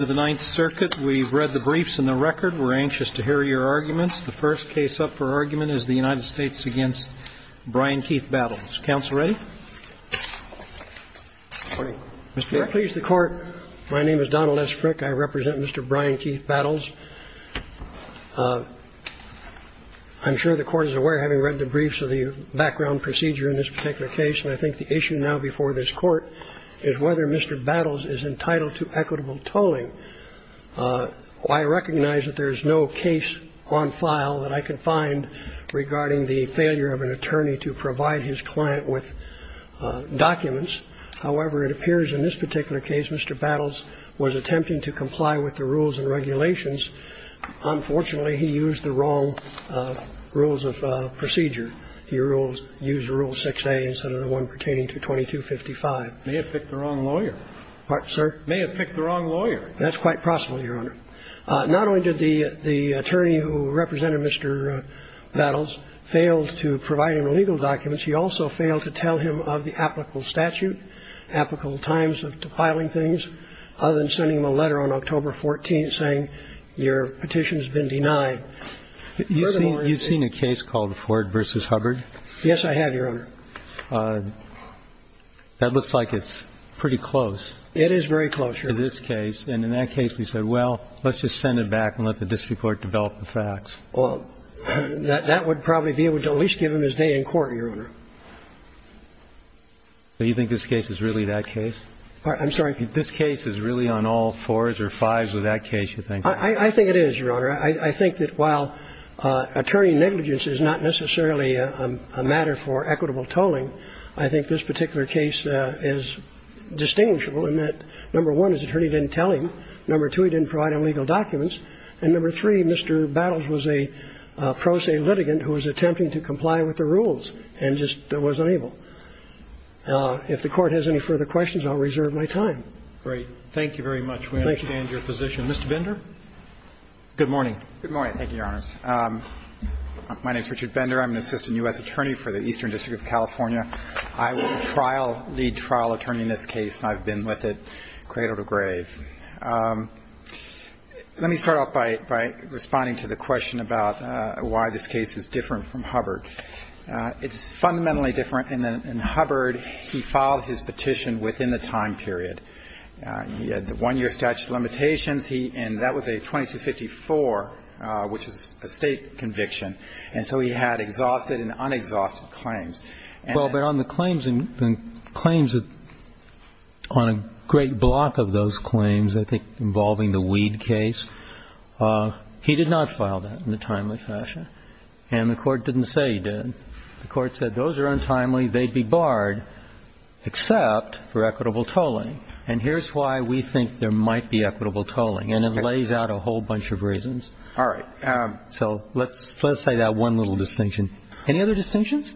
to the Ninth Circuit. We've read the briefs and the record. We're anxious to hear your arguments. The first case up for argument is the United States against Brian Keith Battles. Counsel ready? Mr. Rick. Please, the Court, my name is Donald S. Frick. I represent Mr. Brian Keith Battles. I'm sure the Court is aware, having read the briefs, of the background procedure in this particular case, and I think the issue now before this Court is whether Mr. Battles is entitled to equitable tolling. I recognize that there is no case on file that I can find regarding the failure of an attorney to provide his client with documents. However, it appears in this particular case Mr. Battles was attempting to comply with the rules and regulations. Unfortunately, he used the wrong rules of procedure. He used Rule 6A instead of the one pertaining to 2255. May have picked the wrong lawyer. Pardon, sir? May have picked the wrong lawyer. That's quite possible, Your Honor. Not only did the attorney who represented Mr. Battles fail to provide him legal documents, he also failed to tell him of the applicable statute, applicable times of filing things, other than sending him a letter on October 14th saying your petition has been denied. Furthermore, it seems to me You've seen a case called Ford v. Hubbard? Yes, I have, Your Honor. That looks like it's pretty close. It is very close, Your Honor. In this case. And in that case, we said, well, let's just send it back and let the district court develop the facts. Well, that would probably be able to at least give him his day in court, Your Honor. Do you think this case is really that case? I'm sorry? This case is really on all fours or fives of that case, you think? I think it is, Your Honor. I think that while attorney negligence is not necessarily a matter for equitable tolling, I think this particular case is distinguishable in that, number one, his attorney didn't tell him, number two, he didn't provide him legal documents, and number three, Mr. Battles was a pro se litigant who was attempting to comply with the rules and just was unable. If the Court has any further questions, I'll reserve my time. Great. Thank you very much. We understand your position. Mr. Bender? Good morning. Good morning. Thank you, Your Honors. My name is Richard Bender. I'm an assistant U.S. attorney for the Eastern District of California. I was a trial lead, trial attorney in this case, and I've been with it cradle to grave. Let me start off by responding to the question about why this case is different from Hubbard. It's fundamentally different. In Hubbard, he filed his petition within the time period. He had the one-year statute of limitations. And that was a 2254, which is a State conviction. And so he had exhausted and unexhausted claims. Well, but on the claims, the claims on a great block of those claims, I think, involving the weed case, he did not file that in a timely fashion. And the Court didn't say he did. The Court said those are untimely, they'd be barred except for equitable tolling. And here's why we think there might be equitable tolling. And it lays out a whole bunch of reasons. All right. So let's say that one little distinction. Any other distinctions?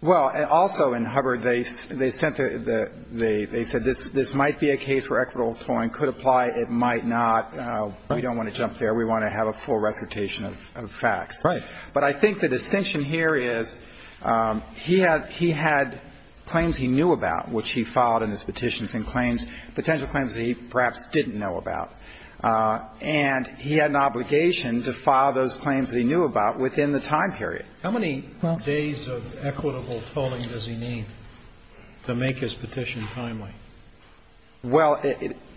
Well, also in Hubbard, they said this might be a case where equitable tolling could apply. It might not. We don't want to jump there. We want to have a full recitation of facts. Right. But I think the distinction here is he had claims he knew about, which he filed in his petitions, and claims, potential claims that he perhaps didn't know about. And he had an obligation to file those claims that he knew about within the time period. How many days of equitable tolling does he need to make his petition timely? Well,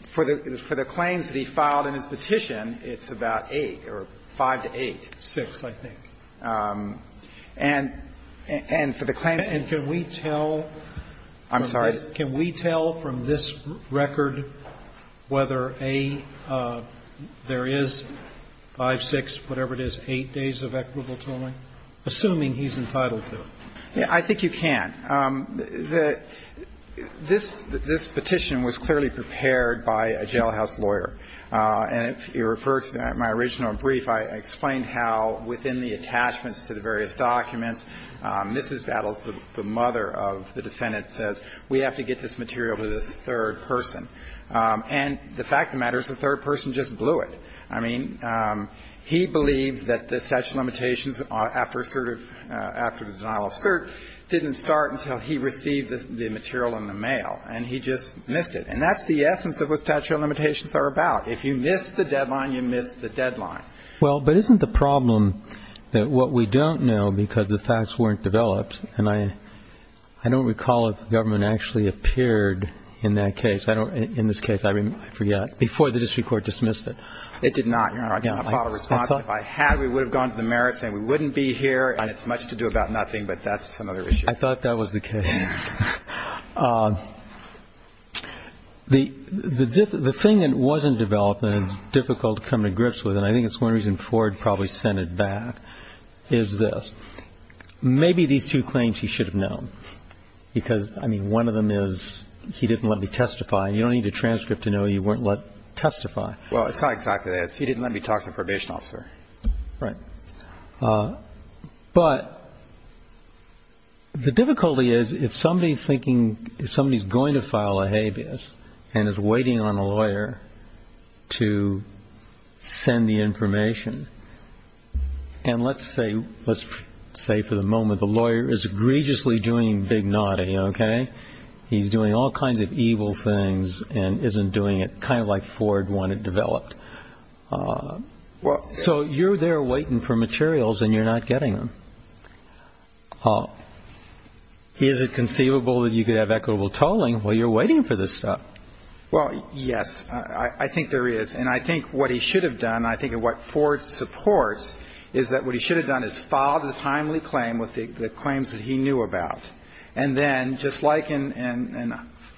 for the claims that he filed in his petition, it's about 8 or 5 to 8. Six, I think. And for the claims that he filed in his petition. I'm sorry. Can we tell from this record whether a — there is 5, 6, whatever it is, 8 days of equitable tolling, assuming he's entitled to it? Yeah, I think you can. The — this petition was clearly prepared by a jailhouse lawyer. And if you refer to my original brief, I explained how within the attachments to the various documents, Mrs. Battles, the mother of the defendant, says we have to get this material to this third person. And the fact of the matter is the third person just blew it. I mean, he believes that the statute of limitations after assertive — after the denial of cert didn't start until he received the material in the mail. And he just missed it. And that's the essence of what statute of limitations are about. If you miss the deadline, you miss the deadline. Well, but isn't the problem that what we don't know because the facts weren't developed — and I don't recall if the government actually appeared in that case. I don't — in this case, I forget. Before the district court dismissed it. It did not, Your Honor. Again, I filed a response. If I had, we would have gone to the merits saying we wouldn't be here and it's much to do about nothing. But that's another issue. I thought that was the case. The thing that wasn't developed and it's difficult to come to grips with, and I think it's one reason Ford probably sent it back, is this. Maybe these two claims he should have known because, I mean, one of them is he didn't let me testify. You don't need a transcript to know you weren't let testify. Well, it's not exactly that. He didn't let me talk to probation officer. Right. But the difficulty is if somebody is thinking somebody is going to file a habeas and is waiting on a lawyer to send the information. And let's say let's say for the moment the lawyer is egregiously doing big naughty. OK, he's doing all kinds of evil things and isn't doing it kind of like Ford wanted developed. Well, so you're there waiting for materials and you're not getting them. Is it conceivable that you could have equitable tolling while you're waiting for this stuff? Well, yes, I think there is. And I think what he should have done, I think what Ford supports is that what he should have done is filed a timely claim with the claims that he knew about. And then just like in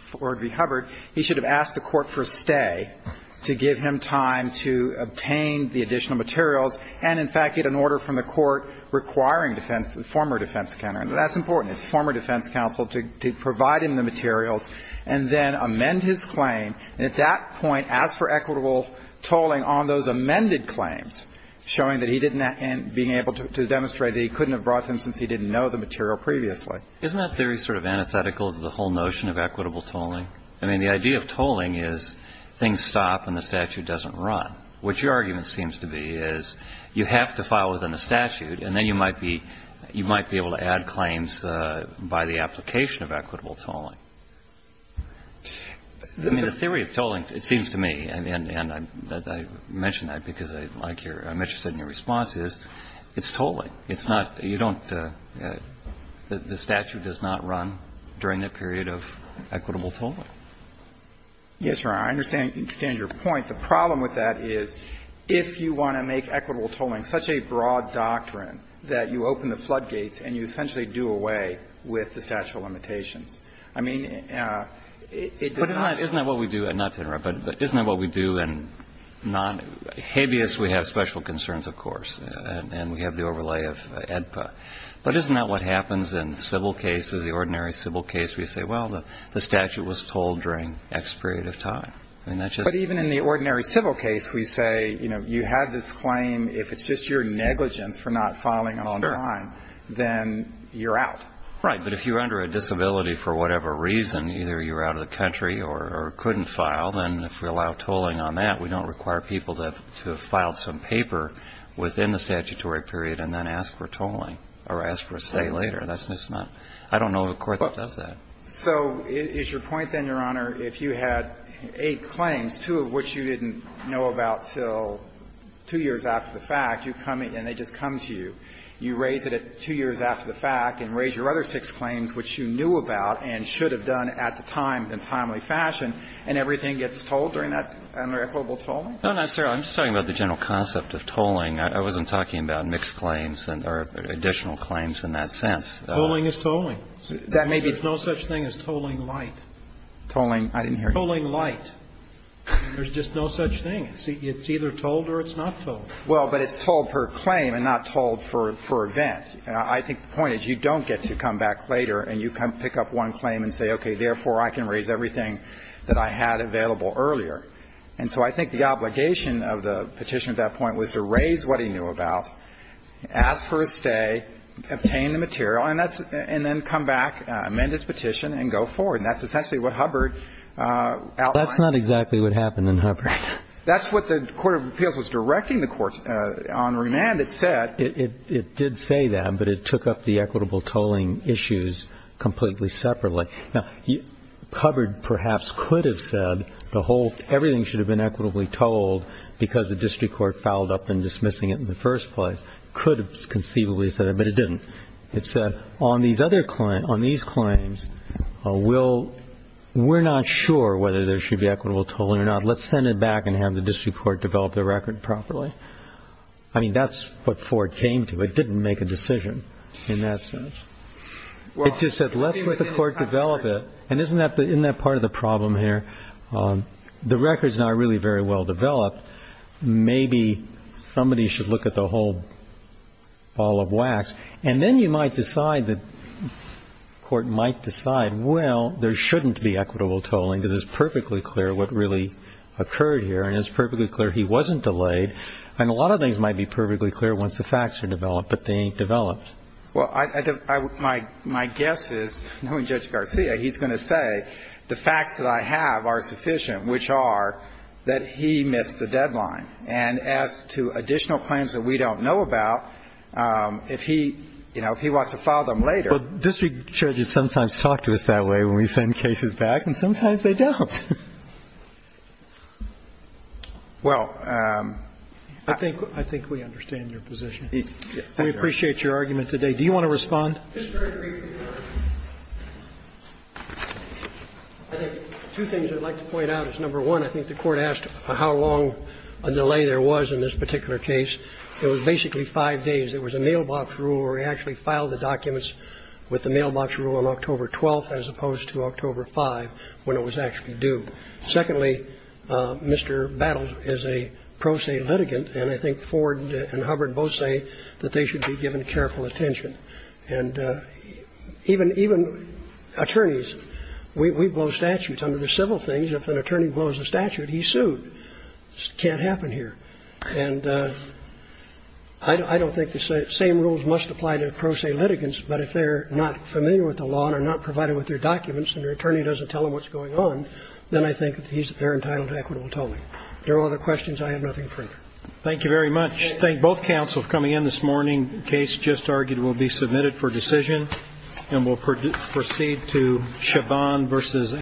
Ford v. Hubbard, he should have asked the court for stay to give him time to obtain the additional materials and, in fact, get an order from the court requiring defense, former defense counsel. And that's important. It's former defense counsel to provide him the materials and then amend his claim. And at that point, ask for equitable tolling on those amended claims, showing that he didn't and being able to demonstrate that he couldn't have brought them since he didn't know the material previously. Isn't that theory sort of antithetical to the whole notion of equitable tolling? I mean, the idea of tolling is things stop and the statute doesn't run. What your argument seems to be is you have to file within the statute and then you might be able to add claims by the application of equitable tolling. I mean, the theory of tolling, it seems to me, and I mention that because I like your – I'm interested in your response is it's tolling. It's not – you don't – the statute does not run during the period of equitable tolling. Yes, Your Honor. I understand your point. The problem with that is if you want to make equitable tolling such a broad doctrine that you open the floodgates and you essentially do away with the statute of limitations. I mean, it does not – But isn't that what we do – and not to interrupt, but isn't that what we do in non – habeas, we have special concerns, of course, and we have the overlay. We have EDPA. But isn't that what happens in civil cases, the ordinary civil case? We say, well, the statute was tolled during X period of time. I mean, that's just – But even in the ordinary civil case, we say, you know, you have this claim. If it's just your negligence for not filing on time, then you're out. Right. But if you're under a disability for whatever reason, either you're out of the country or couldn't file, then if we allow tolling on that, we don't require people to file some paper within the statutory period and then ask for tolling or ask for a stay later. That's just not – I don't know of a court that does that. So is your point, then, Your Honor, if you had eight claims, two of which you didn't know about until two years after the fact, you come and they just come to you, you raise it at two years after the fact and raise your other six claims, which you knew about and should have done at the time in a timely fashion, and everything gets tolled during that and they're equitable tolling? No, not necessarily. I'm just talking about the general concept of tolling. I wasn't talking about mixed claims or additional claims in that sense. Tolling is tolling. That may be – There's no such thing as tolling light. Tolling – I didn't hear you. Tolling light. There's just no such thing. It's either tolled or it's not tolled. Well, but it's tolled per claim and not tolled for event. I think the point is you don't get to come back later and you pick up one claim and say, okay, therefore I can raise everything that I had available earlier. And so I think the obligation of the petition at that point was to raise what he knew about, ask for a stay, obtain the material, and that's – and then come back, amend his petition and go forward. And that's essentially what Hubbard outlined. That's not exactly what happened in Hubbard. That's what the Court of Appeals was directing the courts on remand. It said – It did say that, but it took up the equitable tolling issues completely separately. Now, Hubbard perhaps could have said the whole – everything should have been equitably tolled because the district court fouled up in dismissing it in the first place. It could have conceivably said it, but it didn't. It said on these other – on these claims, we'll – we're not sure whether there should be equitable tolling or not. Let's send it back and have the district court develop the record properly. I mean, that's what Ford came to. It didn't make a decision in that sense. It just said, let's let the court develop it. And isn't that the – isn't that part of the problem here? The record's not really very well developed. Maybe somebody should look at the whole ball of wax. And then you might decide that – the court might decide, well, there shouldn't be equitable tolling because it's perfectly clear what really occurred here, and it's perfectly clear he wasn't delayed. And a lot of things might be perfectly clear once the facts are developed, but they ain't developed. Well, I – my guess is, knowing Judge Garcia, he's going to say the facts that I have are sufficient, which are that he missed the deadline. And as to additional claims that we don't know about, if he – you know, if he wants to file them later – Well, district judges sometimes talk to us that way when we send cases back, and sometimes they don't. Well – I think – I think we understand your position. We appreciate your argument. As to whether or not there was an incorrect delay, I don't think that's something that we should have considered today. Do you want to respond? It's very briefly, Your Honor. I think two things I'd like to point out is, number one, I think the Court asked how long a delay there was in this particular case. It was basically five days. There was a mailbox rule where we actually filed the documents with the mailbox rule on October 12th as opposed to October 5th when it was actually due. Secondly, Mr. Battles is a pro se litigant, and I think Ford and Hubbard both say that they should be given careful attention. And even attorneys, we blow statutes under the civil things. If an attorney blows a statute, he's sued. It can't happen here. And I don't think the same rules must apply to pro se litigants, but if they're not familiar with the law and are not provided with their documents and their attorney doesn't tell them what's going on, then I think that they're entitled to equitable tolling. If there are other questions, I have nothing further. Thank you very much. I thank both counsels for coming in this morning. The case just argued will be submitted for decision, and we'll proceed to Chabon v. Anderson.